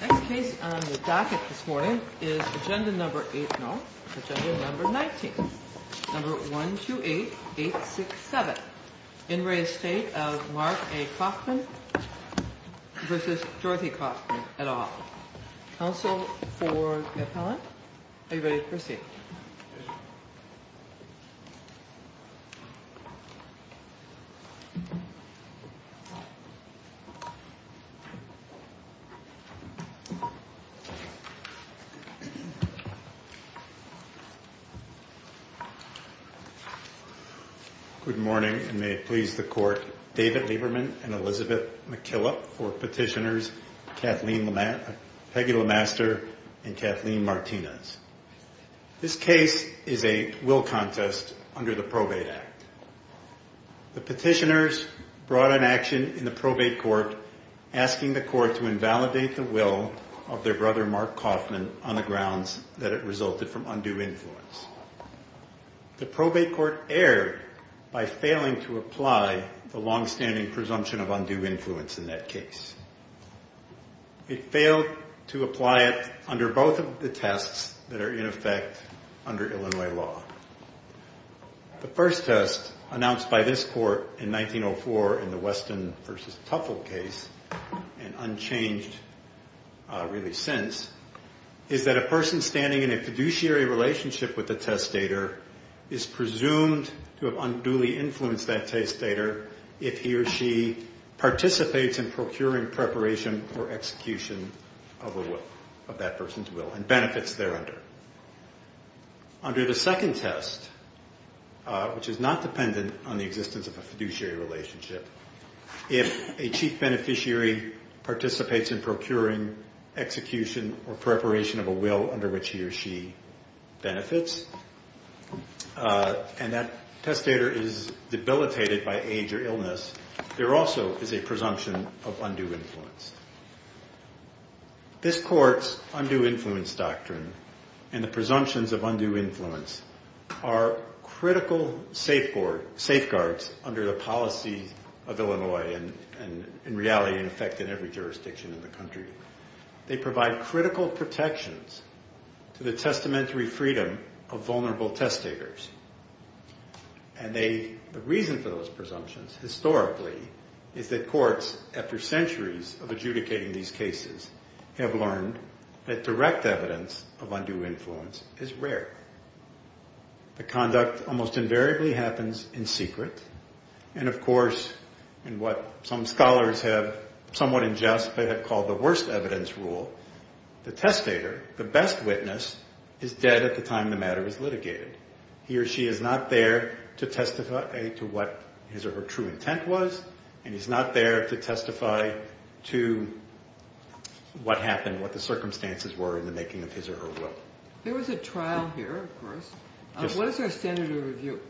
Next case on the docket this morning is agenda number 19, number 128867. In re-estate of Mark A. Coffman v. Dorothy Coffman, et al. Counsel for the appellant. Are you ready to proceed? Good morning and may it please the court, David Lieberman and Elizabeth McKillop for petitioners, Peggy Lemaster and Kathleen Martinez. This case is a will contest under the Probate Act. The petitioners brought an action in the probate court asking the court to invalidate the will of their brother Mark Coffman on the grounds that it resulted from undue influence. The probate court erred by failing to apply the longstanding presumption of undue influence in that case. It failed to apply it under both of the tests that are in effect under Illinois law. The first test announced by this court in 1904 in the Weston v. Tuffle case and unchanged really since is that a person standing in a fiduciary relationship with the testator is presumed to have unduly influenced that testator if he or she participates in procuring preparation for execution of that person's will and benefits there under. Under the second test, which is not dependent on the existence of a fiduciary relationship, if a chief beneficiary participates in procuring execution or preparation of a will under which he or she benefits and that testator is debilitated by age or illness, there also is a presumption of undue influence. This court's undue influence doctrine and the presumptions of undue influence are critical safeguards under the policy of Illinois and in reality in effect in every jurisdiction in the country. They provide critical protections to the testamentary freedom of vulnerable testators and the reason for those presumptions historically is that courts after centuries of adjudicating these cases have learned that direct evidence of undue influence is rare. The conduct almost invariably happens in secret and of course in what some scholars have somewhat ingest but have called the worst evidence rule, the testator, the best witness, is dead at the time the matter is litigated. He or she is not there to testify to what his or her true intent was and he's not there to testify to what happened, what the circumstances were in the making of his or her will. There was a trial here of course. What is our standard of review?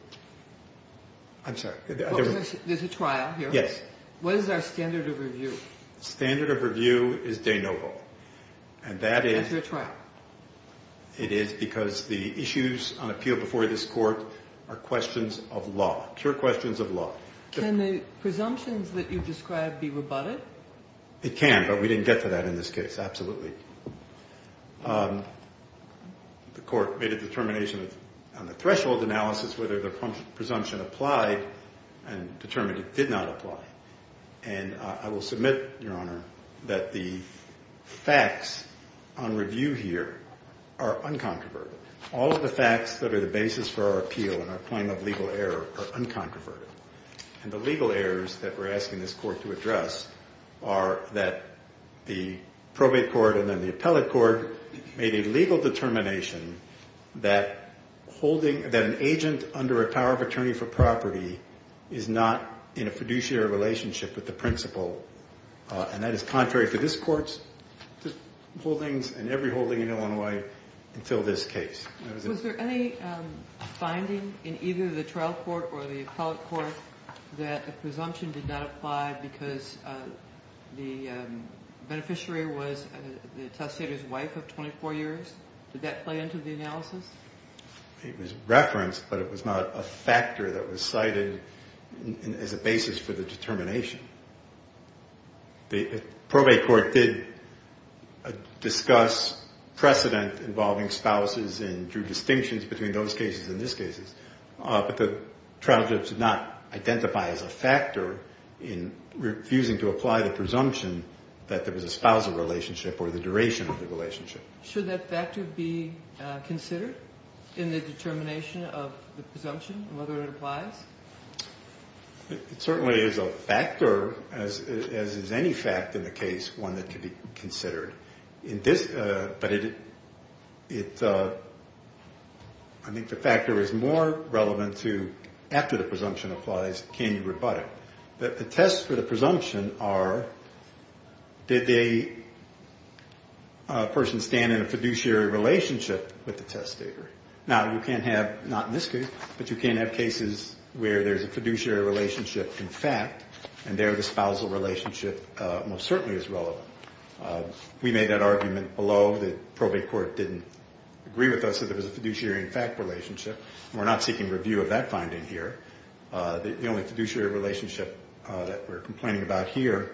I'm sorry. There's a trial here? Yes. What is our standard of review? Standard of review is de novo and that is... That's your trial? It is because the issues on appeal before this court are questions of law, pure questions of law. Can the presumptions that you describe be rebutted? It can but we didn't get to that in this case, absolutely. The court made a determination on the threshold analysis whether the presumption applied and determined it did not apply. And I will submit, Your Honor, that the facts on review here are uncontroverted. All of the facts that are the basis for our appeal and our claim of legal error are uncontroverted. And the legal errors that we're asking this court to address are that the probate court and then the appellate court made a legal determination that an agent under a power of attorney for property is not in a fiduciary relationship with the principal. And that is contrary to this court's holdings and every holding in Illinois until this case. Was there any finding in either the trial court or the appellate court that a presumption did not apply because the beneficiary was the attestator's wife of 24 years? Did that play into the analysis? It was referenced but it was not a factor that was cited as a basis for the determination. The probate court did discuss precedent involving spouses and drew distinctions between those cases and this case. But the trial judge did not identify as a factor in refusing to apply the presumption that there was a spousal relationship or the duration of the relationship. Should that factor be considered in the determination of the presumption and whether it applies? It certainly is a factor, as is any fact in the case, one that could be considered. But I think the factor is more relevant to after the presumption applies, can you rebut it? The tests for the presumption are, did the person stand in a fiduciary relationship with the attestator? Now you can't have, not in this case, but you can't have cases where there's a fiduciary relationship in fact and there the spousal relationship most certainly is relevant. We made that argument below. The probate court didn't agree with us that there was a fiduciary in fact relationship. We're not seeking review of that finding here. The only fiduciary relationship that we're complaining about here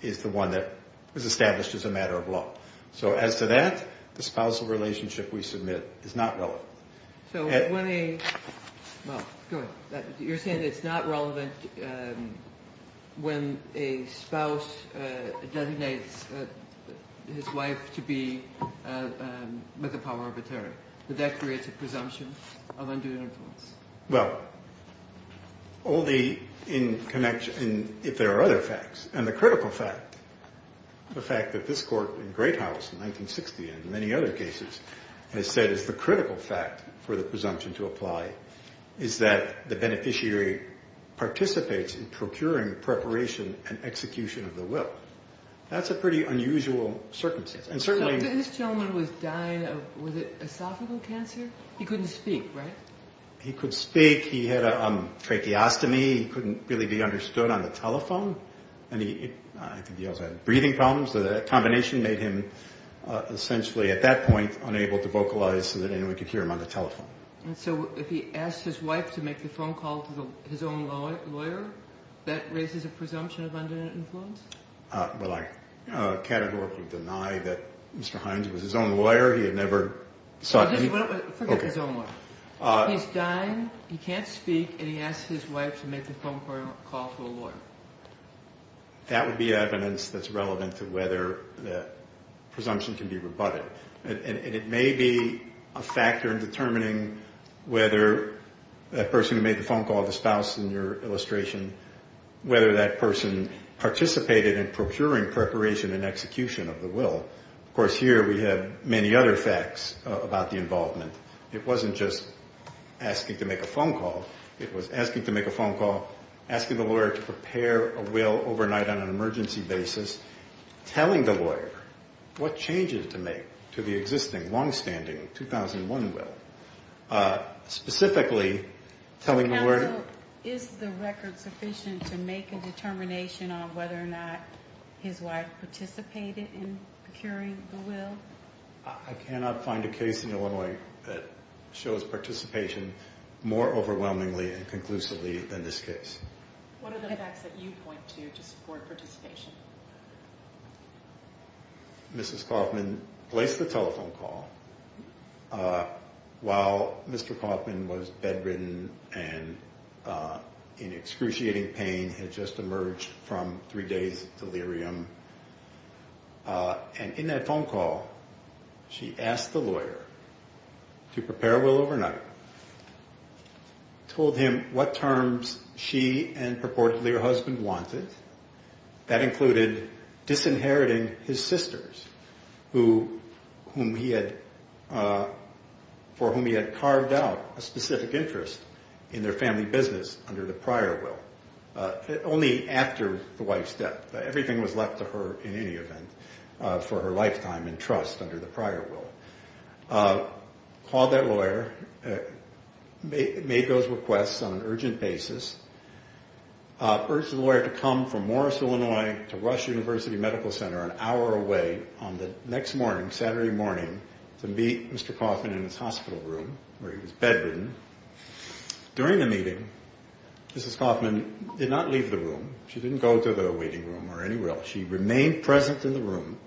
is the one that was established as a matter of law. So as to that, the spousal relationship we submit is not relevant. So when a, well, go ahead. You're saying it's not relevant when a spouse designates his wife to be with the power of a terror. That that creates a presumption of undue influence. Well, only in connection, if there are other facts. And the critical fact, the fact that this Court in Great House in 1960 and many other cases has said is the critical fact for the presumption to apply is that the beneficiary participates in procuring preparation and execution of the will. That's a pretty unusual circumstance. And certainly this gentleman was dying of, was it esophageal cancer? He couldn't speak, right? He could speak. He had a tracheostomy. He couldn't really be understood on the telephone. And he, I think he also had breathing problems. So that combination made him essentially at that point unable to vocalize so that anyone could hear him on the telephone. And so if he asked his wife to make the phone call to his own lawyer, that raises a presumption of undue influence? Well, I categorically deny that Mr. Hines was his own lawyer. He had never sought any. Forget his own lawyer. He's dying. He can't speak. And he asked his wife to make the phone call to a lawyer. That would be evidence that's relevant to whether the presumption can be rebutted. And it may be a factor in determining whether that person who made the phone call, the spouse in your illustration, whether that person participated in procuring preparation and execution of the will. Of course, here we have many other facts about the involvement. It wasn't just asking to make a phone call. It was asking to make a phone call, asking the lawyer to prepare a will overnight on an emergency basis, telling the lawyer what changes to make to the existing longstanding 2001 will. Specifically, telling the lawyer... Is the record sufficient to make a determination on whether or not his wife participated in procuring the will? I cannot find a case in Illinois that shows participation more overwhelmingly and conclusively than this case. What are the facts that you point to to support participation? Mrs. Kaufman placed the telephone call while Mr. Kaufman was bedridden and in excruciating pain, had just emerged from three days delirium. And in that phone call, she asked the lawyer to prepare a will overnight, told him what terms she and purportedly her husband wanted. That included disinheriting his sisters, for whom he had carved out a specific interest in their family business under the prior will. Only after the wife's death. Everything was left to her, in any event, for her lifetime in trust under the prior will. Called that lawyer, made those requests on an urgent basis. Urged the lawyer to come from Morris, Illinois, to Rush University Medical Center an hour away on the next morning, Saturday morning, to meet Mr. Kaufman in his hospital room where he was bedridden. During the meeting, Mrs. Kaufman did not leave the room. She didn't go to the waiting room or any will. She remained present in the room.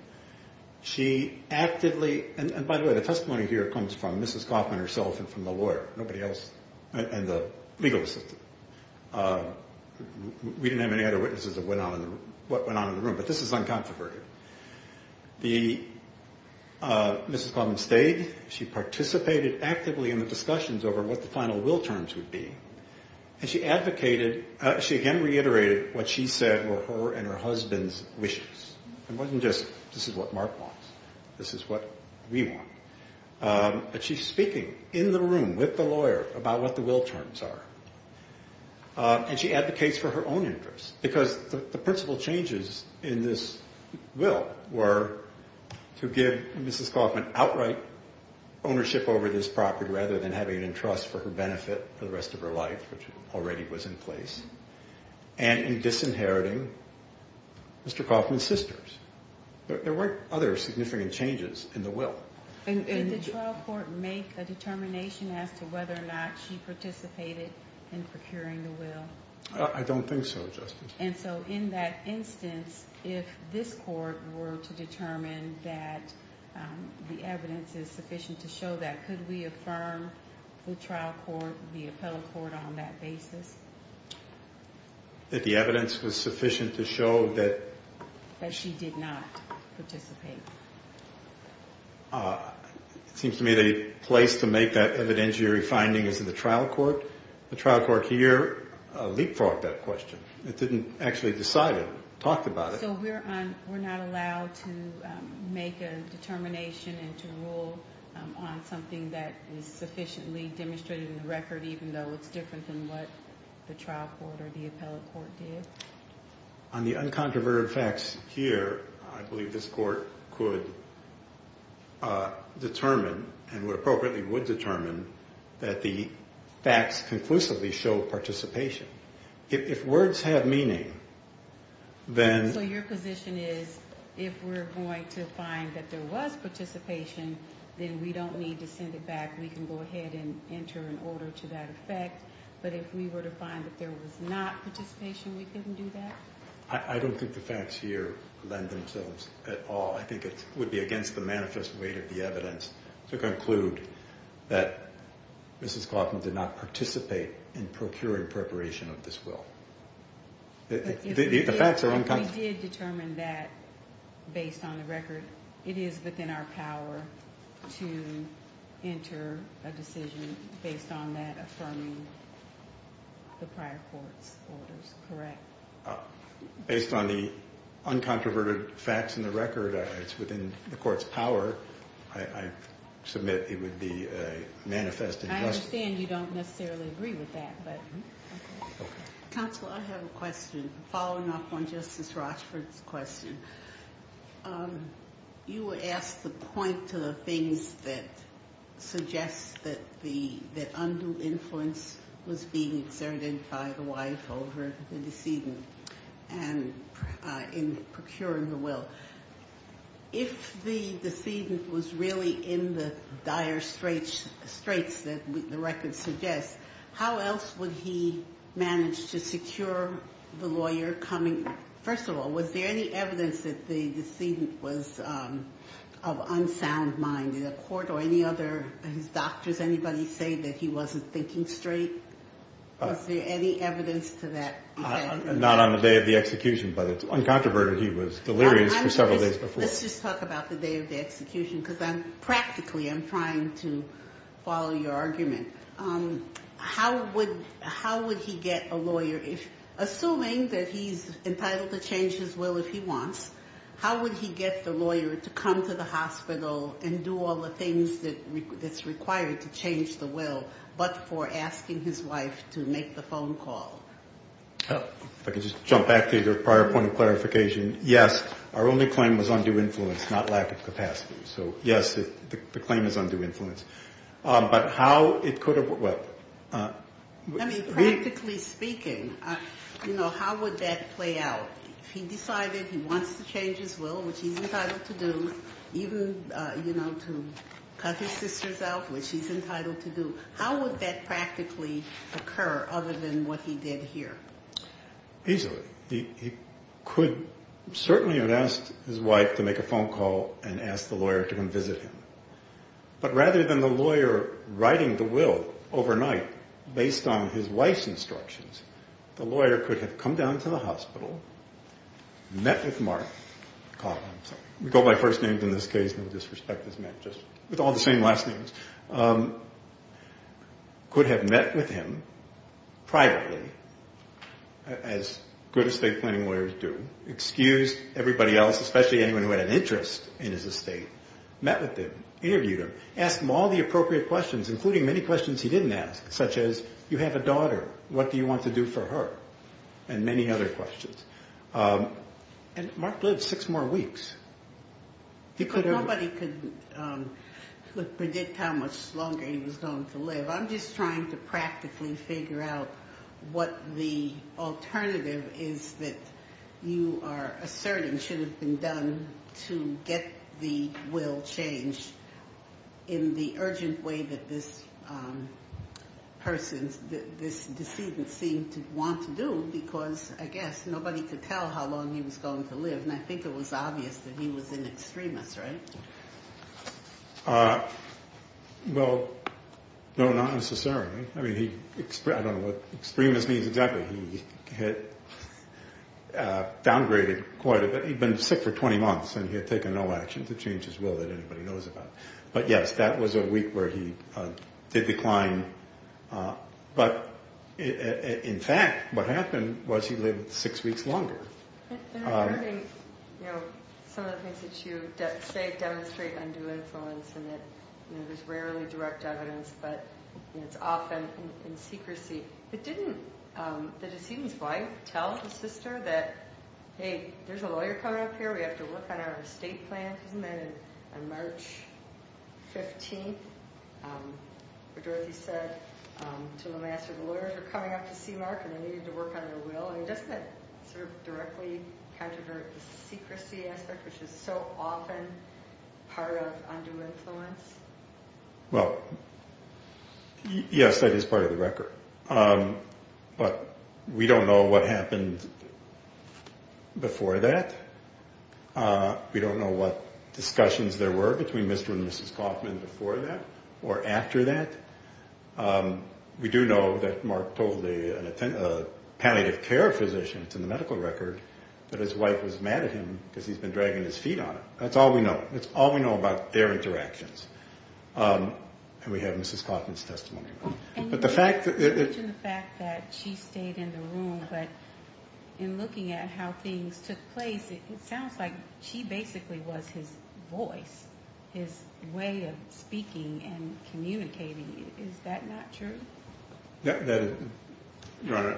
She actively... And by the way, the testimony here comes from Mrs. Kaufman herself and from the lawyer, nobody else, and the legal assistant. We didn't have any other witnesses of what went on in the room, but this is uncontroverted. Mrs. Kaufman stayed. She participated actively in the discussions over what the final will terms would be. And she advocated... She again reiterated what she said were her and her husband's wishes. It wasn't just, this is what Mark wants. This is what we want. But she's speaking in the room with the lawyer about what the will terms are. And she advocates for her own interests because the principal changes in this will were to give Mrs. Kaufman outright ownership over this property rather than having it in trust for her benefit for the rest of her life, which already was in place, and in disinheriting Mr. Kaufman's sisters. There weren't other significant changes in the will. And did the trial court make a determination as to whether or not she participated in procuring the will? I don't think so, Justice. And so in that instance, if this court were to determine that the evidence is sufficient to show that, could we affirm the trial court, the appellate court on that basis? That the evidence was sufficient to show that... That she did not participate. It seems to me the place to make that evidentiary finding is in the trial court. The trial court here leapfrogged that question. It didn't actually decide it. It talked about it. So we're not allowed to make a determination and to rule on something that is sufficiently demonstrated in the record, even though it's different than what the trial court or the appellate court did. On the uncontroverted facts here, I believe this court could determine, and would appropriately would determine, that the facts conclusively show participation. If words have meaning, then... So your position is if we're going to find that there was participation, then we don't need to send it back. We can go ahead and enter an order to that effect. But if we were to find that there was not participation, we couldn't do that? I don't think the facts here lend themselves at all. I think it would be against the manifest weight of the evidence to conclude that Mrs. Kaufman did not participate in procuring preparation of this will. The facts are unconstitutional. You did determine that, based on the record, it is within our power to enter a decision based on that affirming the prior court's orders, correct? Based on the uncontroverted facts in the record, it's within the court's power. I submit it would be a manifest injustice. I understand you don't necessarily agree with that, but... Counsel, I have a question. Following up on Justice Rochford's question, you asked the point to the things that suggest that undue influence was being exerted by the wife over the decedent in procuring the will. If the decedent was really in the dire straits that the record suggests, how else would he manage to secure the lawyer coming? First of all, was there any evidence that the decedent was of unsound mind in the court or any other of his doctors, anybody say that he wasn't thinking straight? Was there any evidence to that? Not on the day of the execution, but it's uncontroverted. He was delirious for several days before. Let's just talk about the day of the execution, because practically I'm trying to follow your argument. How would he get a lawyer, assuming that he's entitled to change his will if he wants, how would he get the lawyer to come to the hospital and do all the things that's required to change the will, but for asking his wife to make the phone call? If I could just jump back to your prior point of clarification. Yes, our only claim was undue influence, not lack of capacity. So, yes, the claim is undue influence. But how it could have been. I mean, practically speaking, how would that play out? If he decided he wants to change his will, which he's entitled to do, even to cut his sisters out, which he's entitled to do, how would that practically occur other than what he did here? Easily. He could certainly have asked his wife to make a phone call and asked the lawyer to come visit him. But rather than the lawyer writing the will overnight based on his wife's instructions, the lawyer could have come down to the hospital, met with Mark, we go by first names in this case, no disrespect, just with all the same last names, could have met with him privately, as good estate planning lawyers do, excused everybody else, especially anyone who had an interest in his estate, met with him, interviewed him, asked him all the appropriate questions, including many questions he didn't ask, such as, you have a daughter, what do you want to do for her? And many other questions. And Mark lived six more weeks. Nobody could predict how much longer he was going to live. I'm just trying to practically figure out what the alternative is that you are asserting should have been done to get the will changed in the urgent way that this person, this decedent seemed to want to do because, I guess, nobody could tell how long he was going to live. And I think it was obvious that he was an extremist, right? Well, no, not necessarily. I mean, I don't know what extremist means exactly. He had downgraded quite a bit. He'd been sick for 20 months and he had taken no action to change his will that anybody knows about. But, yes, that was a week where he did decline. But, in fact, what happened was he lived six weeks longer. And I'm wondering, you know, some of the things that you say demonstrate undue influence and that there's rarely direct evidence, but it's often in secrecy. But didn't the decedent's wife tell the sister that, hey, there's a lawyer coming up here, we have to work on our estate plan? Isn't that on March 15th where Dorothy said to the master, the lawyers were coming up to see Mark and they needed to work on their will? Doesn't that sort of directly controvert the secrecy aspect, which is so often part of undue influence? Well, yes, that is part of the record. But we don't know what happened before that. We don't know what discussions there were between Mr. and Mrs. Kauffman before that or after that. We do know that Mark told a palliative care physician, it's in the medical record, that his wife was mad at him because he's been dragging his feet on it. That's all we know. That's all we know about their interactions. And we have Mrs. Kauffman's testimony. But the fact that... And you mentioned the fact that she stayed in the room, but in looking at how things took place, it sounds like she basically was his voice, his way of speaking and communicating. Is that not true? Your Honor,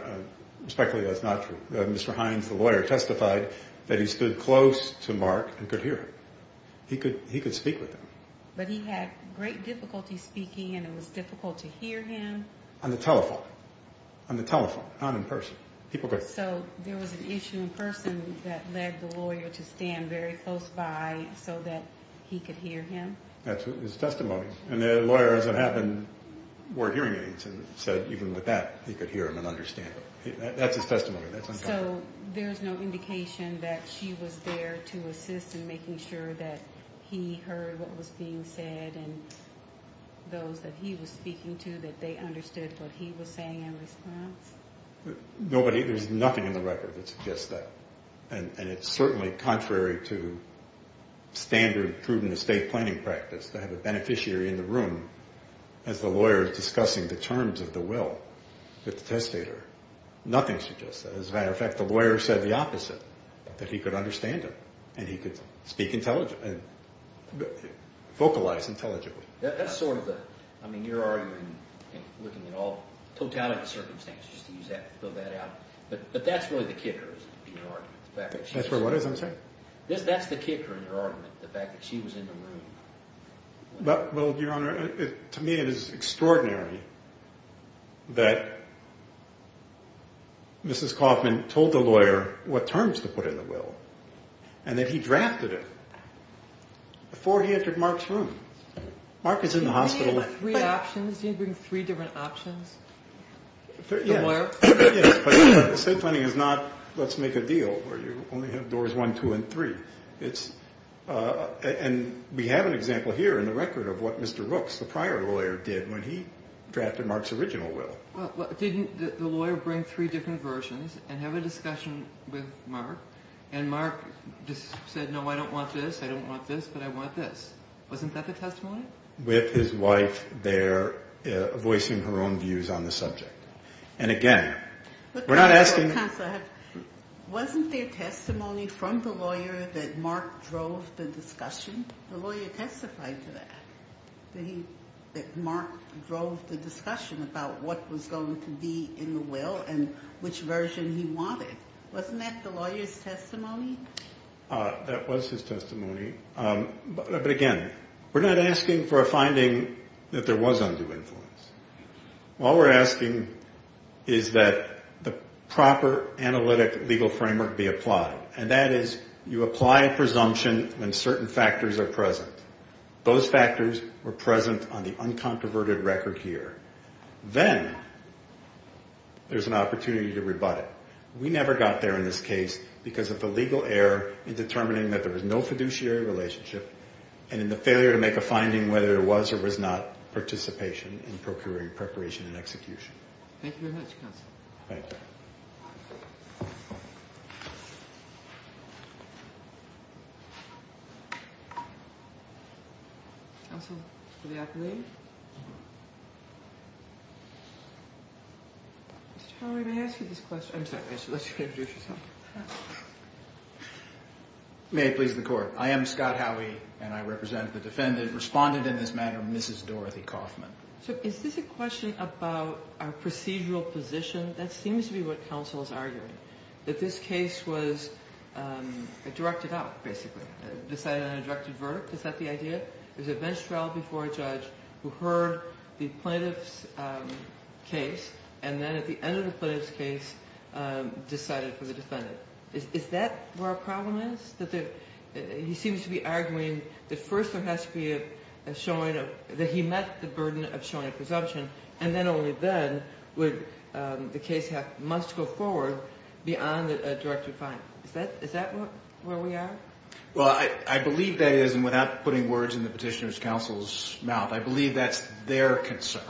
respectfully, that's not true. Mr. Hines, the lawyer, testified that he stood close to Mark and could hear him. He could speak with him. But he had great difficulty speaking and it was difficult to hear him? On the telephone. On the telephone, not in person. So there was an issue in person that led the lawyer to stand very close by so that he could hear him? That's his testimony. And the lawyers that happened were hearing aids and said even with that he could hear him and understand him. That's his testimony. So there's no indication that she was there to assist in making sure that he heard what was being said and those that he was speaking to, that they understood what he was saying in response? Nobody, there's nothing in the record that suggests that. And it's certainly contrary to standard prudent estate planning practice to have a beneficiary in the room as the lawyer discussing the terms of the will with the testator. Nothing suggests that. As a matter of fact, the lawyer said the opposite, that he could understand him and he could speak intelligibly, vocalize intelligibly. That's sort of the, I mean, your argument in looking at all totality of circumstances, just to use that, fill that out, but that's really the kicker in your argument. That's where what is, I'm sorry? That's the kicker in your argument, the fact that she was in the room. Well, Your Honor, to me it is extraordinary that Mrs. Kaufman told the lawyer what terms to put in the will and that he drafted it before he entered Mark's room. Mark is in the hospital. Did he bring three options? Did he bring three different options? Yes, but estate planning is not let's make a deal where you only have doors one, two, and three. And we have an example here in the record of what Mr. Rooks, the prior lawyer, did when he drafted Mark's original will. Well, didn't the lawyer bring three different versions and have a discussion with Mark and Mark just said, no, I don't want this, I don't want this, but I want this. Wasn't that the testimony? With his wife there voicing her own views on the subject. And again, we're not asking. Wasn't there testimony from the lawyer that Mark drove the discussion? The lawyer testified to that. That Mark drove the discussion about what was going to be in the will and which version he wanted. Wasn't that the lawyer's testimony? That was his testimony. But again, we're not asking for a finding that there was undue influence. All we're asking is that the proper analytic legal framework be applied, and that is you apply a presumption when certain factors are present. Those factors were present on the uncontroverted record here. Then there's an opportunity to rebut it. We never got there in this case because of the legal error in determining that there was no fiduciary relationship and in the failure to make a finding whether there was or was not participation in procuring preparation and execution. Thank you very much, counsel. Thank you. Counsel for the appellate. Mr. Howey, may I ask you this question? I'm sorry. Let's introduce yourself. May it please the Court. I am Scott Howey, and I represent the defendant. Respondent in this matter, Mrs. Dorothy Kaufman. So is this a question about our procedural position? That seems to be what counsel is arguing, that this case was directed out, basically, decided on a directed verdict. Is that the idea? There's a bench trial before a judge who heard the plaintiff's case and then at the end of the plaintiff's case decided for the defendant. Is that where our problem is? He seems to be arguing that first there has to be a showing of that he met the burden of showing a presumption, and then only then would the case must go forward beyond a directed fine. Is that where we are? Well, I believe that is, and without putting words in the petitioner's counsel's mouth, I believe that's their concern.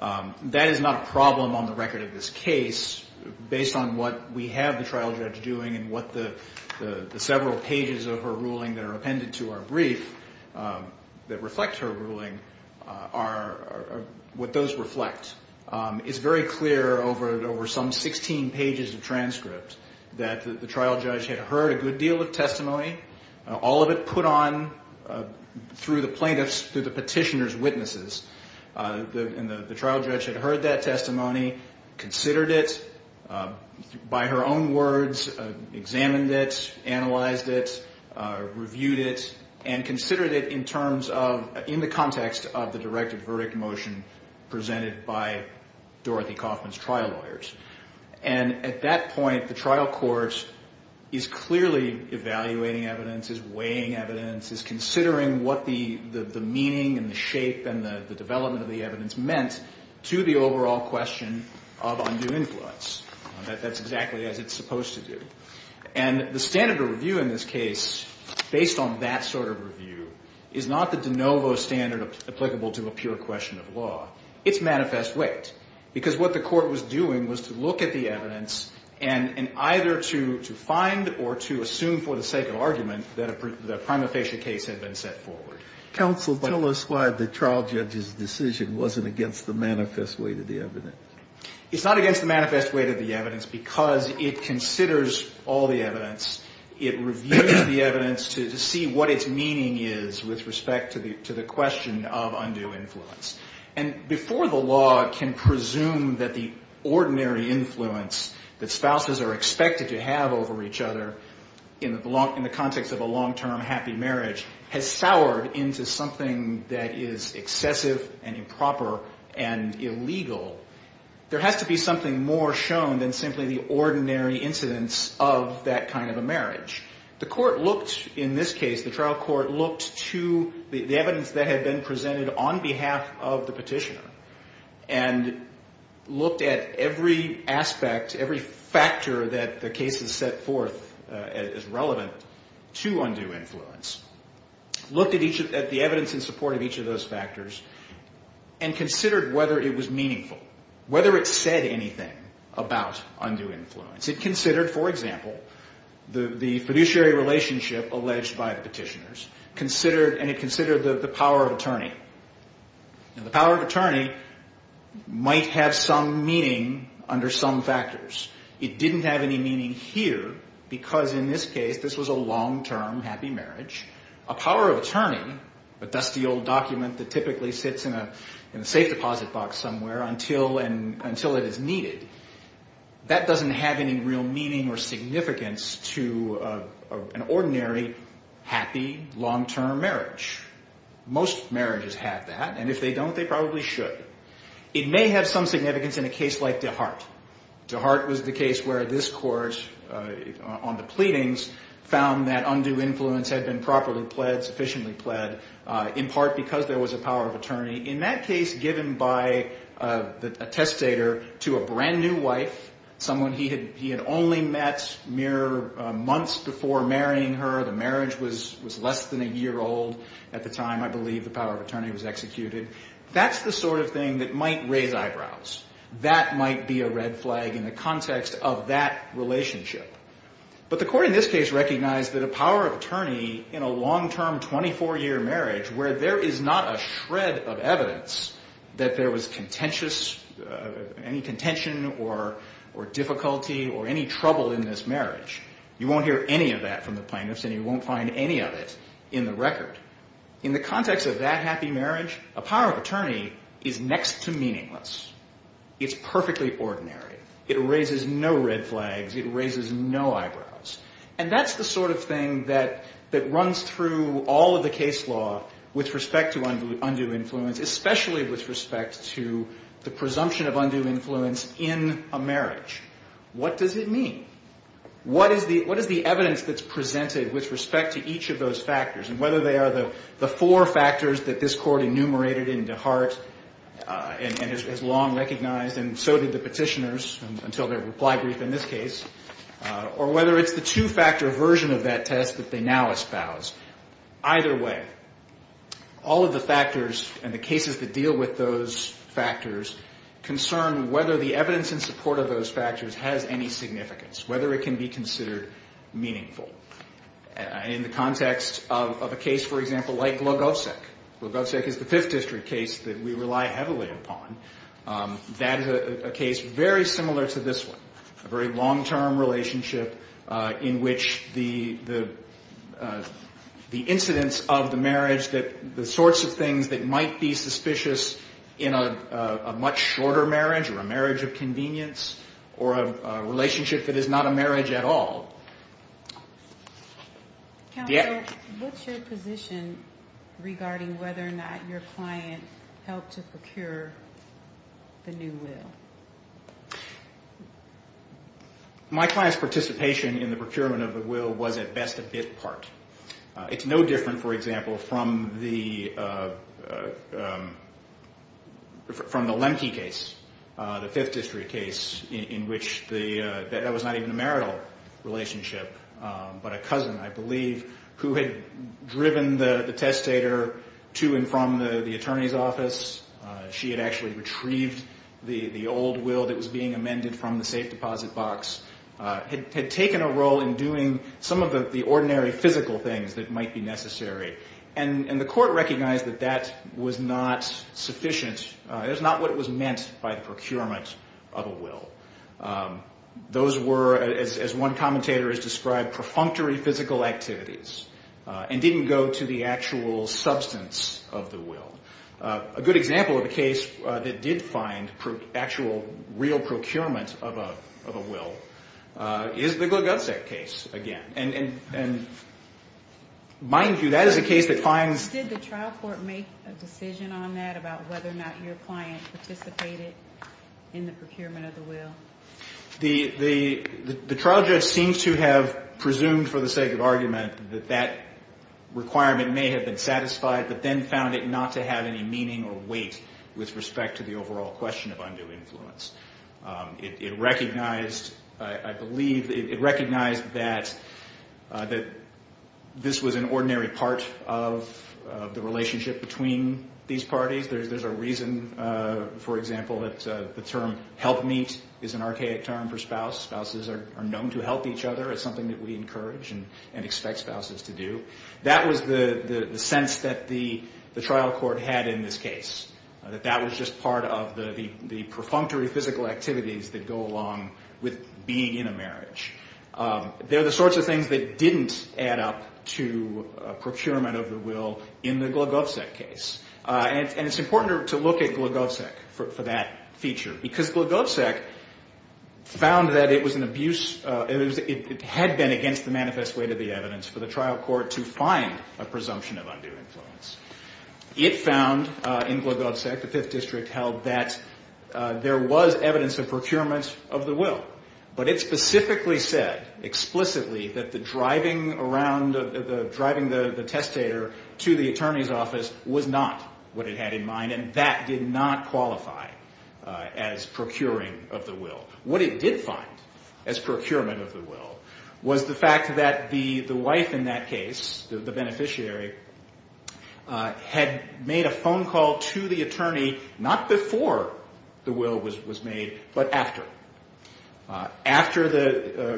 That is not a problem on the record of this case, based on what we have the trial judge doing and what the several pages of her ruling that are appended to our brief that reflect her ruling are, what those reflect. It's very clear over some 16 pages of transcript that the trial judge had heard a good deal of testimony, all of it put on through the plaintiff's, through the petitioner's witnesses. The trial judge had heard that testimony, considered it by her own words, examined it, analyzed it, reviewed it, and considered it in the context of the directed verdict motion presented by Dorothy Kaufman's trial lawyers. And at that point, the trial court is clearly evaluating evidence, is weighing evidence, is considering what the meaning and the shape and the development of the evidence meant to the overall question of undue influence. That's exactly as it's supposed to do. And the standard of review in this case, based on that sort of review, is not the de novo standard applicable to a pure question of law. It's manifest weight. Because what the court was doing was to look at the evidence and either to find or to assume for the sake of argument that a prima facie case had been set forward. Counsel, tell us why the trial judge's decision wasn't against the manifest weight of the evidence. It's not against the manifest weight of the evidence because it considers all the evidence, it reviews the evidence to see what its meaning is with respect to the question of undue influence. And before the law can presume that the ordinary influence that spouses are expected to have over each other in the context of a long-term happy marriage has soured into something that is excessive and improper and illegal, there has to be something more shown than simply the ordinary incidence of that kind of a marriage. The court looked, in this case, the trial court looked to the evidence that had been presented on behalf of the petitioner and looked at every aspect, every factor that the case has set forth as relevant to undue influence, looked at the evidence in support of each of those factors and considered whether it was meaningful, whether it said anything about undue influence. It considered, for example, the fiduciary relationship alleged by the petitioners, and it considered the power of attorney. The power of attorney might have some meaning under some factors. It didn't have any meaning here because, in this case, this was a long-term happy marriage. A power of attorney, a dusty old document that typically sits in a safe deposit box somewhere until it is needed, that doesn't have any real meaning or significance to an ordinary, happy, long-term marriage. Most marriages have that, and if they don't, they probably should. It may have some significance in a case like DeHart. DeHart was the case where this court, on the pleadings, found that undue influence had been properly pled, sufficiently pled, in part because there was a power of attorney. In that case, given by a testator to a brand-new wife, someone he had only met mere months before marrying her, the marriage was less than a year old at the time, I believe the power of attorney was executed, that's the sort of thing that might raise eyebrows. That might be a red flag in the context of that relationship. But the court in this case recognized that a power of attorney in a long-term, 24-year marriage, where there is not a shred of evidence that there was contentious, any contention or difficulty or any trouble in this marriage, you won't hear any of that from the plaintiffs and you won't find any of it in the record. In the context of that happy marriage, a power of attorney is next to meaningless. It's perfectly ordinary. It raises no red flags. It raises no eyebrows. And that's the sort of thing that runs through all of the case law with respect to undue influence, especially with respect to the presumption of undue influence in a marriage. What does it mean? What is the evidence that's presented with respect to each of those factors and whether they are the four factors that this court enumerated into heart and has long recognized and so did the petitioners until their reply brief in this case, or whether it's the two-factor version of that test that they now espouse. Either way, all of the factors and the cases that deal with those factors concern whether the evidence in support of those factors has any significance, whether it can be considered meaningful. In the context of a case, for example, like Logosek. Logosek is the Fifth District case that we rely heavily upon. That is a case very similar to this one, a very long-term relationship in which the incidence of the marriage, the sorts of things that might be suspicious in a much shorter marriage or a marriage of convenience or a relationship that is not a marriage at all. Counsel, what's your position regarding whether or not your client helped to procure the new will? My client's participation in the procurement of the will was at best a bit part. It's no different, for example, from the Lemke case, the Fifth District case in which that was not even a marital relationship but a cousin, I believe, who had driven the testator to and from the attorney's office. She had actually retrieved the old will that was being amended from the safe deposit box, had taken a role in doing some of the ordinary physical things that might be necessary, and the court recognized that that was not sufficient. That's not what was meant by the procurement of a will. Those were, as one commentator has described, perfunctory physical activities and didn't go to the actual substance of the will. A good example of a case that did find actual real procurement of a will is the Glugosek case again, and mind you, that is a case that finds Did the trial court make a decision on that, about whether or not your client participated in the procurement of the will? The trial judge seems to have presumed for the sake of argument that that requirement may have been satisfied but then found it not to have any meaning or weight with respect to the overall question of undue influence. It recognized, I believe, it recognized that this was an ordinary part of the relationship between these parties. There's a reason, for example, that the term help meet is an archaic term for spouse. Spouses are known to help each other. It's something that we encourage and expect spouses to do. That was the sense that the trial court had in this case, that that was just part of the perfunctory physical activities that go along with being in a marriage. They're the sorts of things that didn't add up to procurement of the will in the Glugosek case. And it's important to look at Glugosek for that feature because Glugosek found that it was an abuse, it had been against the manifest way to the evidence for the trial court to find a presumption of undue influence. It found in Glugosek, the Fifth District, held that there was evidence of procurement of the will, but it specifically said, explicitly, that the driving the testator to the attorney's office was not what it had in mind, and that did not qualify as procuring of the will. What it did find as procurement of the will was the fact that the wife in that case, the beneficiary, had made a phone call to the attorney not before the will was made, but after. After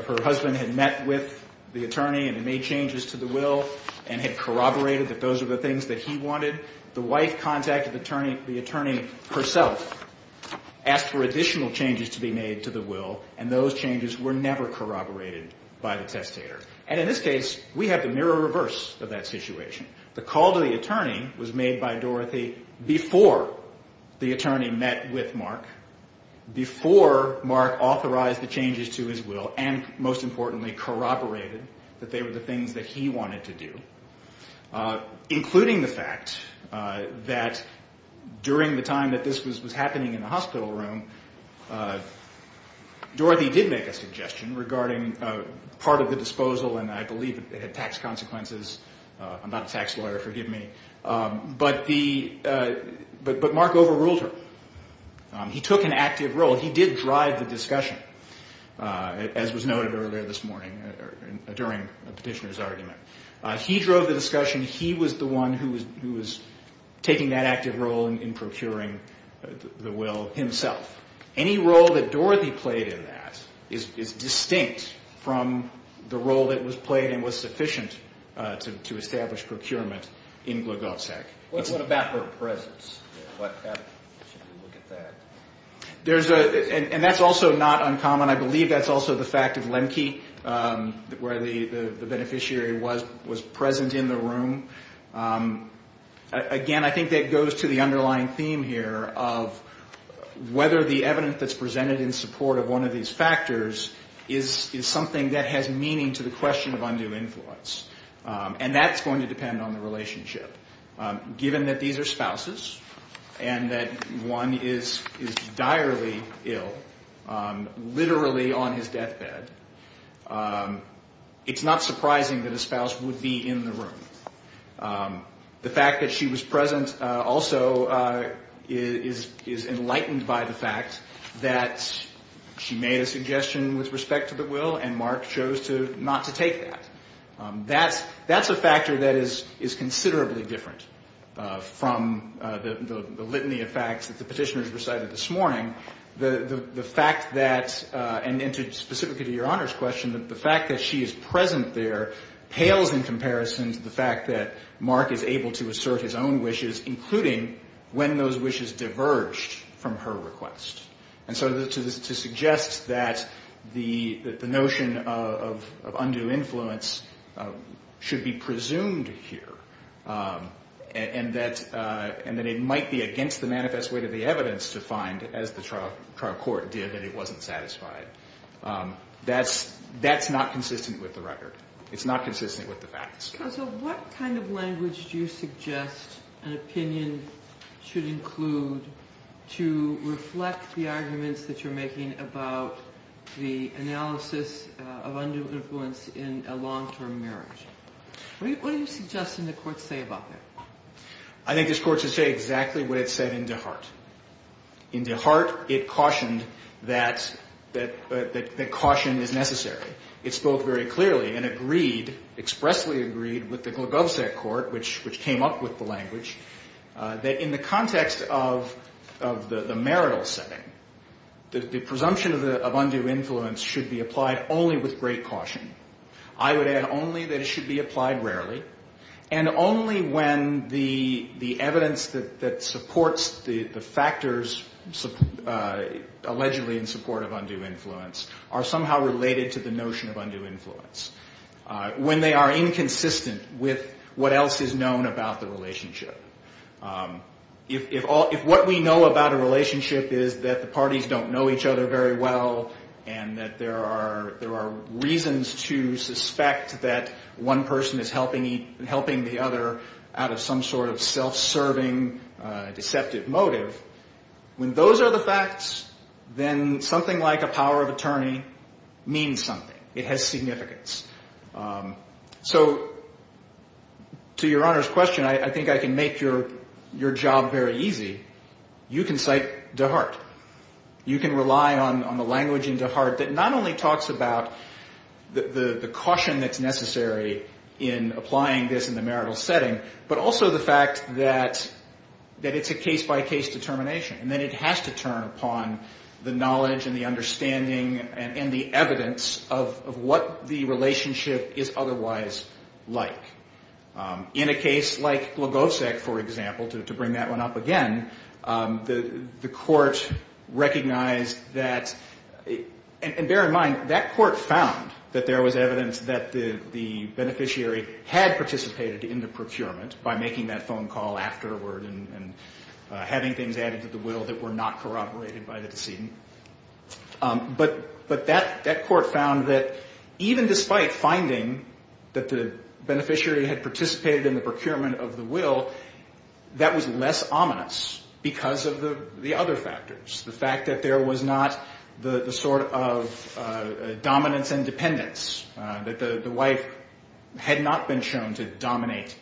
her husband had met with the attorney and made changes to the will and had corroborated that those were the things that he wanted, the wife contacted the attorney herself, asked for additional changes to be made to the will, and those changes were never corroborated by the testator. And in this case, we have the mirror reverse of that situation. The call to the attorney was made by Dorothy before the attorney met with Mark, before Mark authorized the changes to his will, and most importantly corroborated that they were the things that he wanted to do, including the fact that during the time that this was happening in the hospital room, Dorothy did make a suggestion regarding part of the disposal, and I believe it had tax consequences. I'm not a tax lawyer, forgive me. But Mark overruled her. He took an active role. He did drive the discussion, as was noted earlier this morning during Petitioner's argument. He drove the discussion. He was the one who was taking that active role in procuring the will himself. Any role that Dorothy played in that is distinct from the role that was played and was sufficient to establish procurement in Glogotek. What about her presence? Should we look at that? And that's also not uncommon. I believe that's also the fact of Lemke, where the beneficiary was present in the room. Again, I think that goes to the underlying theme here of whether the evidence that's presented in support of one of these factors is something that has meaning to the question of undue influence, and that's going to depend on the relationship. Given that these are spouses and that one is direly ill, literally on his deathbed, it's not surprising that a spouse would be in the room. The fact that she was present also is enlightened by the fact that she made a suggestion with respect to the will, and Mark chose not to take that. That's a factor that is considerably different from the litany of facts that the petitioners recited this morning. The fact that, and specifically to Your Honor's question, the fact that she is present there pales in comparison to the fact that Mark is able to assert his own wishes, including when those wishes diverged from her request. And so to suggest that the notion of undue influence should be presumed here and that it might be against the manifest way to the evidence to find, as the trial court did, that it wasn't satisfied, that's not consistent with the record. It's not consistent with the facts. So what kind of language do you suggest an opinion should include to reflect the arguments that you're making about the analysis of undue influence in a long-term marriage? What do you suggest in the court say about that? I think this court should say exactly what it said in DeHart. In DeHart, it cautioned that caution is necessary. It spoke very clearly and agreed, expressly agreed, with the Glugovsek court, which came up with the language, that in the context of the marital setting, the presumption of undue influence should be applied only with great caution. I would add only that it should be applied rarely, and only when the evidence that supports the factors allegedly in support of undue influence are somehow related to the notion of undue influence, when they are inconsistent with what else is known about the relationship. If what we know about a relationship is that the parties don't know each other very well and that there are reasons to suspect that one person is helping the other out of some sort of self-serving, deceptive motive, when those are the facts, then something like a power of attorney means something. It has significance. So to Your Honor's question, I think I can make your job very easy. You can cite DeHart. You can rely on the language in DeHart that not only talks about the caution that's necessary in applying this in the marital setting, but also the fact that it's a case-by-case determination, and that it has to turn upon the knowledge and the understanding and the evidence of what the relationship is otherwise like. In a case like Glagovsek, for example, to bring that one up again, the court recognized that, and bear in mind, that court found that there was evidence that the beneficiary had participated in the procurement by making that phone call afterward and having things added to the will that were not corroborated by the decedent. But that court found that even despite finding that the beneficiary had participated in the procurement of the will, that was less ominous because of the other factors, the fact that there was not the sort of dominance and dependence, that the wife had not been shown to dominate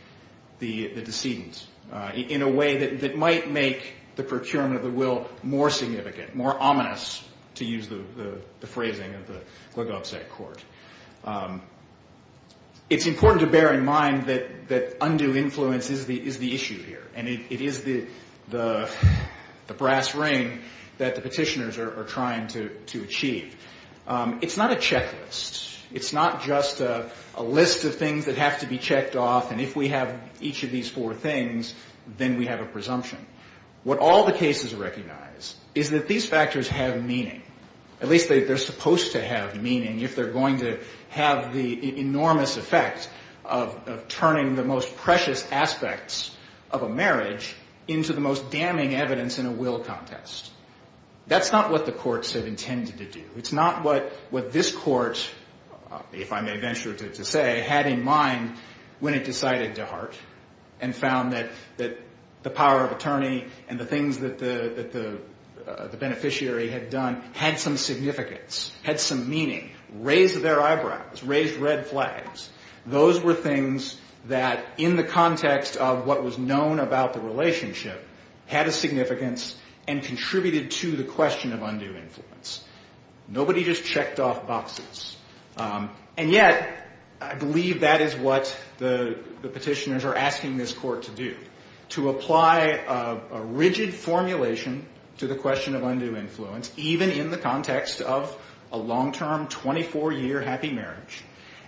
the decedent, in a way that might make the procurement of the will more significant, more ominous, to use the phrasing of the Glagovsek court. It's important to bear in mind that undue influence is the issue here, and it is the brass ring that the petitioners are trying to achieve. It's not a checklist. It's not just a list of things that have to be checked off, and if we have each of these four things, then we have a presumption. What all the cases recognize is that these factors have meaning. At least they're supposed to have meaning if they're going to have the enormous effect of turning the most precious aspects of a marriage into the most damning evidence in a will contest. That's not what the courts have intended to do. It's not what this court, if I may venture to say, had in mind when it decided to heart and found that the power of attorney and the things that the beneficiary had done had some significance, had some meaning, raised their eyebrows, raised red flags. Those were things that in the context of what was known about the relationship had a significance and contributed to the question of undue influence. Nobody just checked off boxes, and yet I believe that is what the petitioners are asking this court to do, to apply a rigid formulation to the question of undue influence, even in the context of a long-term, 24-year happy marriage,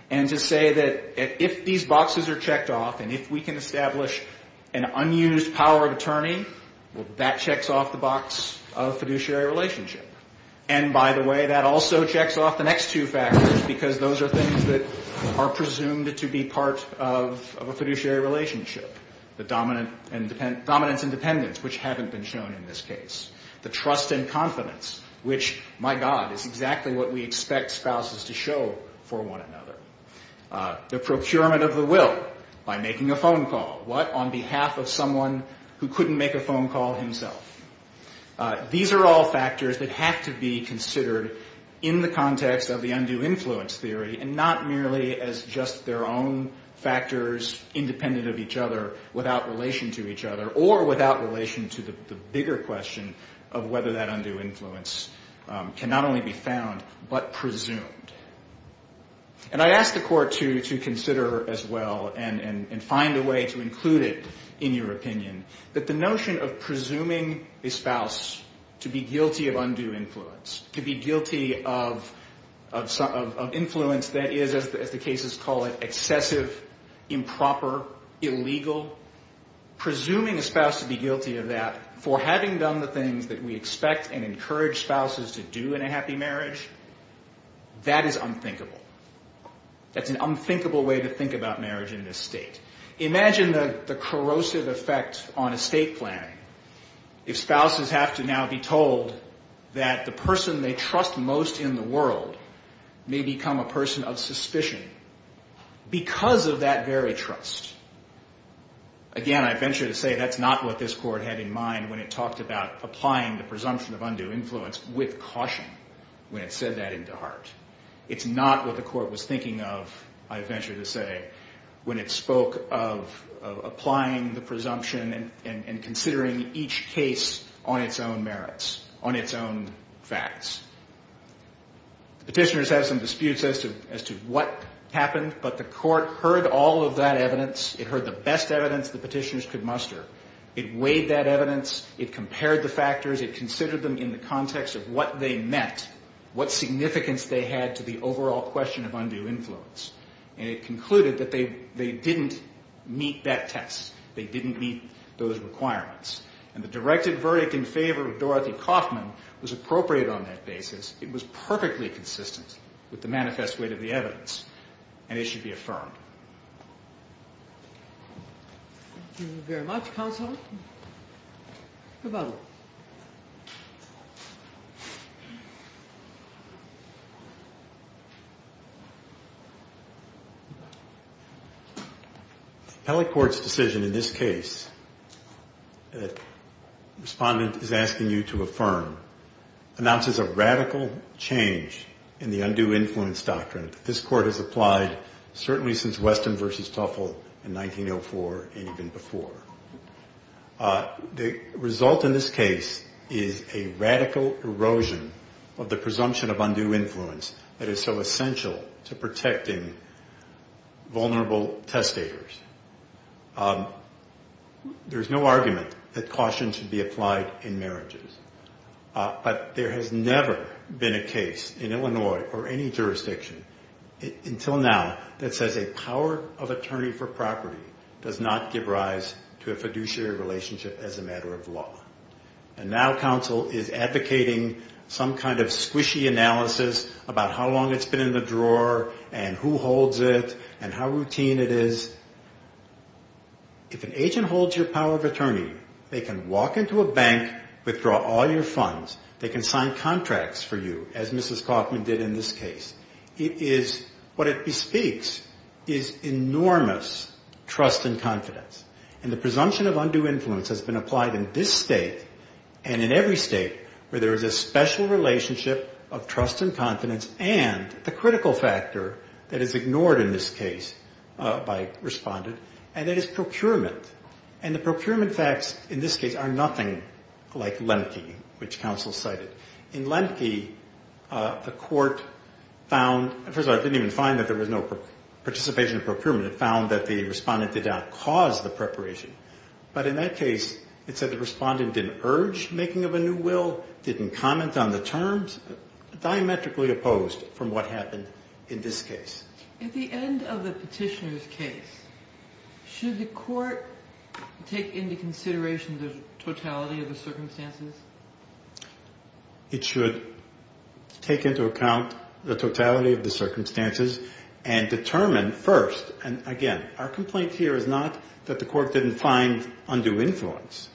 and to say that if these boxes are checked off and if we can establish an unused power of attorney, well, that checks off the box of fiduciary relationship. And by the way, that also checks off the next two factors because those are things that are presumed to be part of a fiduciary relationship, the dominance and dependence, which haven't been shown in this case, the trust and confidence, which, my God, is exactly what we expect spouses to show for one another, the procurement of the will by making a phone call. What on behalf of someone who couldn't make a phone call himself? These are all factors that have to be considered in the context of the undue influence theory and not merely as just their own factors independent of each other without relation to each other or without relation to the bigger question of whether that undue influence can not only be found but presumed. And I ask the Court to consider as well and find a way to include it in your opinion that the notion of presuming a spouse to be guilty of undue influence, to be guilty of influence that is, as the cases call it, excessive, improper, illegal, presuming a spouse to be guilty of that for having done the things that we expect and encourage spouses to do in a happy marriage, that is unthinkable. That's an unthinkable way to think about marriage in this state. Imagine the corrosive effect on estate planning if spouses have to now be told that the person they trust most in the world may become a person of suspicion because of that very trust. Again, I venture to say that's not what this Court had in mind when it talked about applying the presumption of undue influence with caution when it said that into heart. It's not what the Court was thinking of, I venture to say, when it spoke of applying the presumption and considering each case on its own merits, on its own facts. Petitioners have some disputes as to what happened, but the Court heard all of that evidence. It heard the best evidence the petitioners could muster. It weighed that evidence. It compared the factors. It considered them in the context of what they meant, what significance they had to the overall question of undue influence. And it concluded that they didn't meet that test. They didn't meet those requirements. And the directed verdict in favor of Dorothy Kaufman was appropriate on that basis. It was perfectly consistent with the manifest weight of the evidence. And it should be affirmed. Thank you very much, Counsel. Mr. Butler. The appellate court's decision in this case, the respondent is asking you to affirm, announces a radical change in the undue influence doctrine. This Court has applied certainly since Weston v. Tuffle in 1904 and even before. The result in this case is a radical erosion of the presumption of undue influence that is so essential to protecting vulnerable testators. There is no argument that caution should be applied in marriages. But there has never been a case in Illinois or any jurisdiction until now that says a power of attorney for property does not give rise to a fiduciary relationship as a matter of law. And now counsel is advocating some kind of squishy analysis about how long it's been in the drawer and who holds it and how routine it is. If an agent holds your power of attorney, they can walk into a bank, withdraw all your funds, they can sign contracts for you, as Mrs. Kaufman did in this case. What it bespeaks is enormous trust and confidence. And the presumption of undue influence has been applied in this state and in every state where there is a special relationship of trust and confidence and the critical factor that is ignored in this case by the respondent, and that is procurement. And the procurement facts in this case are nothing like Lemke, which counsel cited. In Lemke, the court found – first of all, it didn't even find that there was no participation in procurement. It found that the respondent did not cause the preparation. But in that case, it said the respondent didn't urge making of a new will, didn't comment on the terms, diametrically opposed from what happened in this case. At the end of the petitioner's case, should the court take into consideration the totality of the circumstances? It should take into account the totality of the circumstances and determine first – and again, our complaint here is not that the court didn't find undue influence.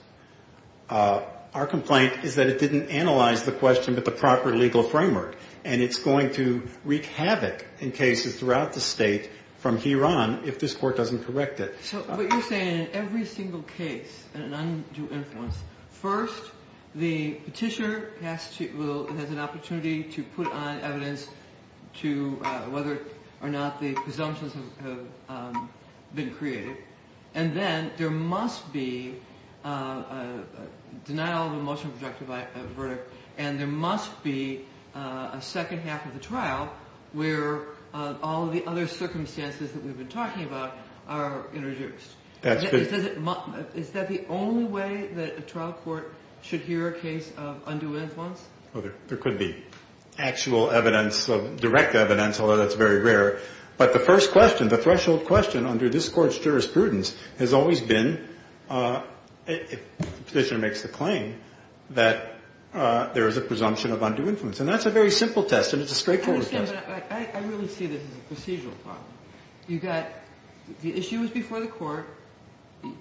Our complaint is that it didn't analyze the question with the proper legal framework, and it's going to wreak havoc in cases throughout the state from here on if this court doesn't correct it. So what you're saying, in every single case, an undue influence, first the petitioner has an opportunity to put on evidence to whether or not the presumptions have been created, and then there must be a denial of a motion projected by a verdict, and there must be a second half of the trial where all of the other circumstances that we've been talking about are introduced. Is that the only way that a trial court should hear a case of undue influence? There could be actual evidence, direct evidence, although that's very rare. But the first question, the threshold question under this court's jurisprudence, has always been, if the petitioner makes the claim, that there is a presumption of undue influence. And that's a very simple test, and it's a straightforward test. I understand, but I really see this as a procedural problem. You've got – the issue is before the court,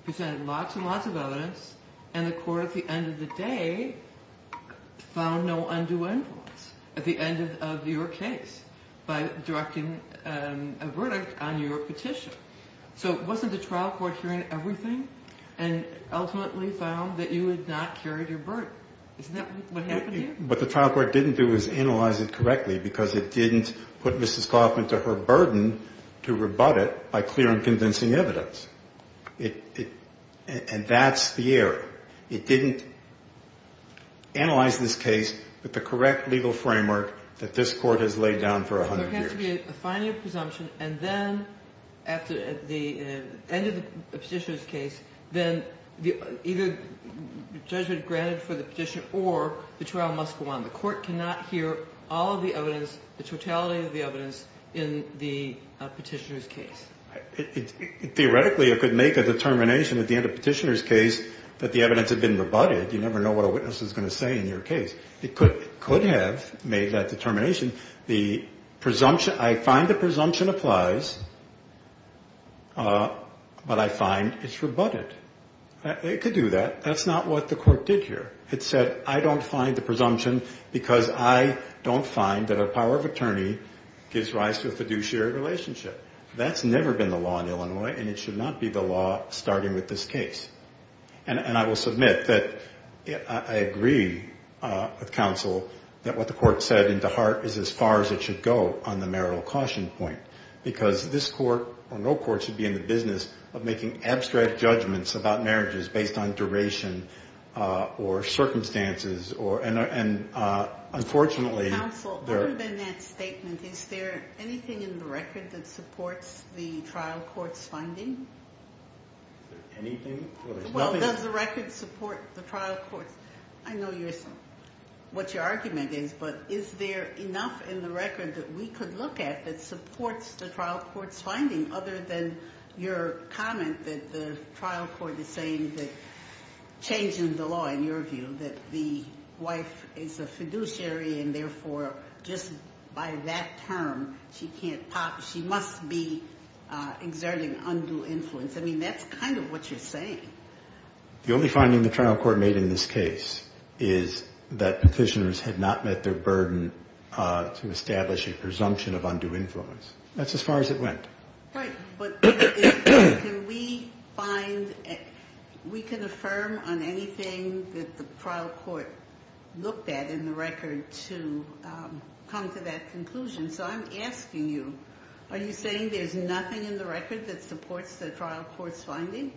presented lots and lots of evidence, and the court at the end of the day found no undue influence at the end of your case by directing a verdict on your petition. So wasn't the trial court hearing everything and ultimately found that you had not carried your burden? Isn't that what happened here? What the trial court didn't do was analyze it correctly because it didn't put Mrs. Kaufman to her burden to rebut it by clear and convincing evidence. And that's the error. It didn't analyze this case with the correct legal framework that this court has laid down for 100 years. So there has to be a final presumption, and then at the end of the petitioner's case, then either judgment granted for the petitioner or the trial must go on. The court cannot hear all of the evidence, the totality of the evidence, in the petitioner's case. Theoretically, it could make a determination at the end of the petitioner's case that the evidence had been rebutted. You never know what a witness is going to say in your case. It could have made that determination. The presumption, I find the presumption applies, but I find it's rebutted. It could do that. That's not what the court did here. It said, I don't find the presumption because I don't find that a power of attorney gives rise to a fiduciary relationship. That's never been the law in Illinois, and it should not be the law starting with this case. And I will submit that I agree with counsel that what the court said in DeHart is as far as it should go on the marital caution point, because this court or no court should be in the business of making abstract judgments about marriages based on duration or circumstances. And, unfortunately, there are – Counsel, other than that statement, is there anything in the record that supports the trial court's finding? Is there anything? Well, does the record support the trial court's – I know what your argument is, but is there enough in the record that we could look at that supports the trial court's finding other than your comment that the trial court is saying that changing the law, in your view, that the wife is a fiduciary and, therefore, just by that term, she can't – she must be exerting undue influence? I mean, that's kind of what you're saying. The only finding the trial court made in this case is that petitioners had not met their burden to establish a presumption of undue influence. That's as far as it went. Right, but can we find – we can affirm on anything that the trial court looked at in the record to come to that conclusion. So I'm asking you, are you saying there's nothing in the record that supports the trial court's finding?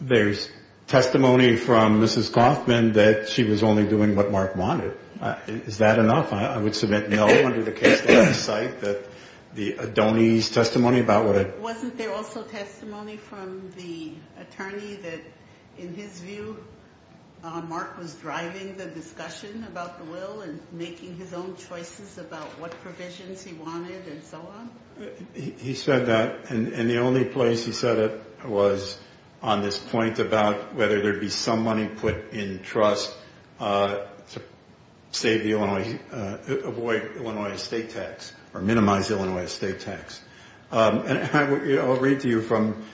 There's testimony from Mrs. Coffman that she was only doing what Mark wanted. Is that enough? I would submit no under the case legislate that the – Donnie's testimony about what – Wasn't there also testimony from the attorney that, in his view, Mark was driving the discussion about the will and making his own choices about what provisions he wanted and so on? He said that, and the only place he said it was on this point about whether there'd be some money put in trust to save the Illinois – avoid Illinois estate tax or minimize Illinois estate tax. And I'll read to you from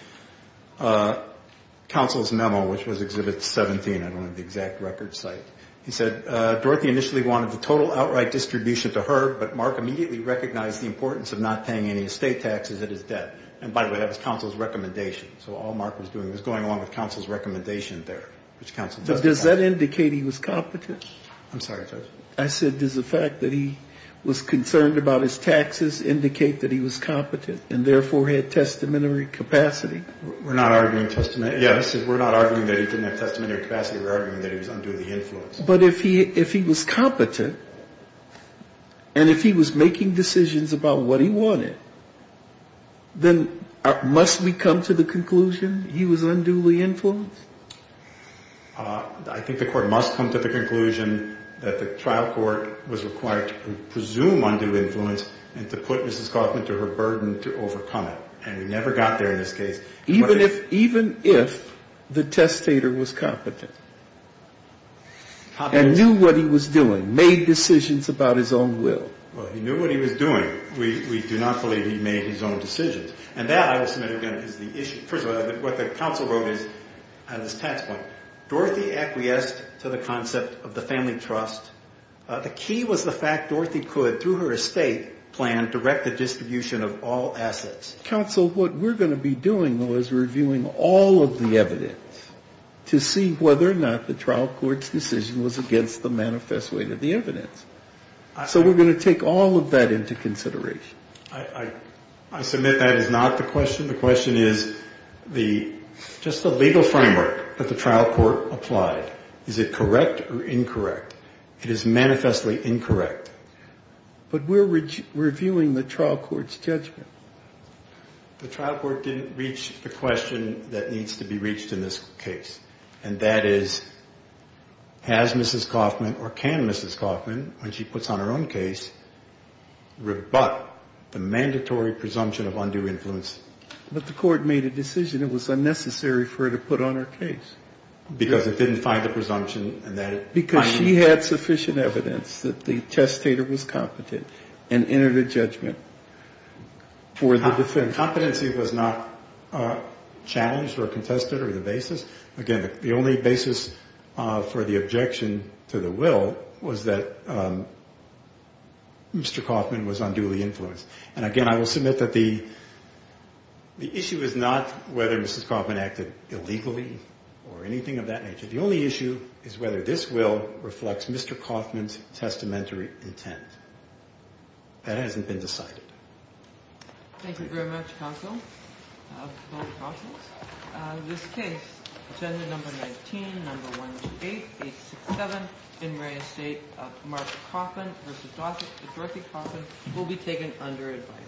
counsel's memo, which was Exhibit 17. I don't have the exact record site. He said, Dorothy initially wanted the total outright distribution to her, but Mark immediately recognized the importance of not paying any estate taxes at his debt. And, by the way, that was counsel's recommendation. So all Mark was doing was going along with counsel's recommendation there, which counsel – Does that indicate he was competent? I'm sorry, Judge. I said, does the fact that he was concerned about his taxes indicate that he was competent and therefore had testamentary capacity? We're not arguing testamentary – yes. We're not arguing that he didn't have testamentary capacity. We're arguing that he was unduly influenced. But if he was competent and if he was making decisions about what he wanted, then must we come to the conclusion he was unduly influenced? I think the Court must come to the conclusion that the trial court was required to presume unduly influence and to put Mrs. Kaufman to her burden to overcome it. And we never got there in this case. Even if – even if the testator was competent and knew what he was doing, made decisions about his own will? Well, he knew what he was doing. We do not believe he made his own decisions. And that, I will submit again, is the issue. First of all, what the counsel wrote is, on this tax point, Dorothy acquiesced to the concept of the family trust. The key was the fact Dorothy could, through her estate plan, direct the distribution of all assets. Counsel, what we're going to be doing, though, is reviewing all of the evidence to see whether or not the trial court's decision was against the manifest weight of the evidence. So we're going to take all of that into consideration. I submit that is not the question. The question is the – just the legal framework that the trial court applied. Is it correct or incorrect? It is manifestly incorrect. But we're reviewing the trial court's judgment. The trial court didn't reach the question that needs to be reached in this case, and that is, has Mrs. Kaufman or can Mrs. Kaufman, when she puts on her own case, rebut the mandatory presumption of undue influence? But the court made a decision. It was unnecessary for her to put on her case. Because it didn't find the presumption. Because she had sufficient evidence that the testator was competent and entered a judgment for the defendant. Competency was not challenged or contested or the basis. Again, the only basis for the objection to the will was that Mr. Kaufman was unduly influenced. And, again, I will submit that the issue is not whether Mrs. Kaufman acted illegally or anything of that nature. The only issue is whether this will reflects Mr. Kaufman's testamentary intent. That hasn't been decided. Thank you very much, counsel. This case, agenda number 19, number 128867, in re-estate of Martha Kaufman v. Dorothy Kaufman, will be taken under advisory.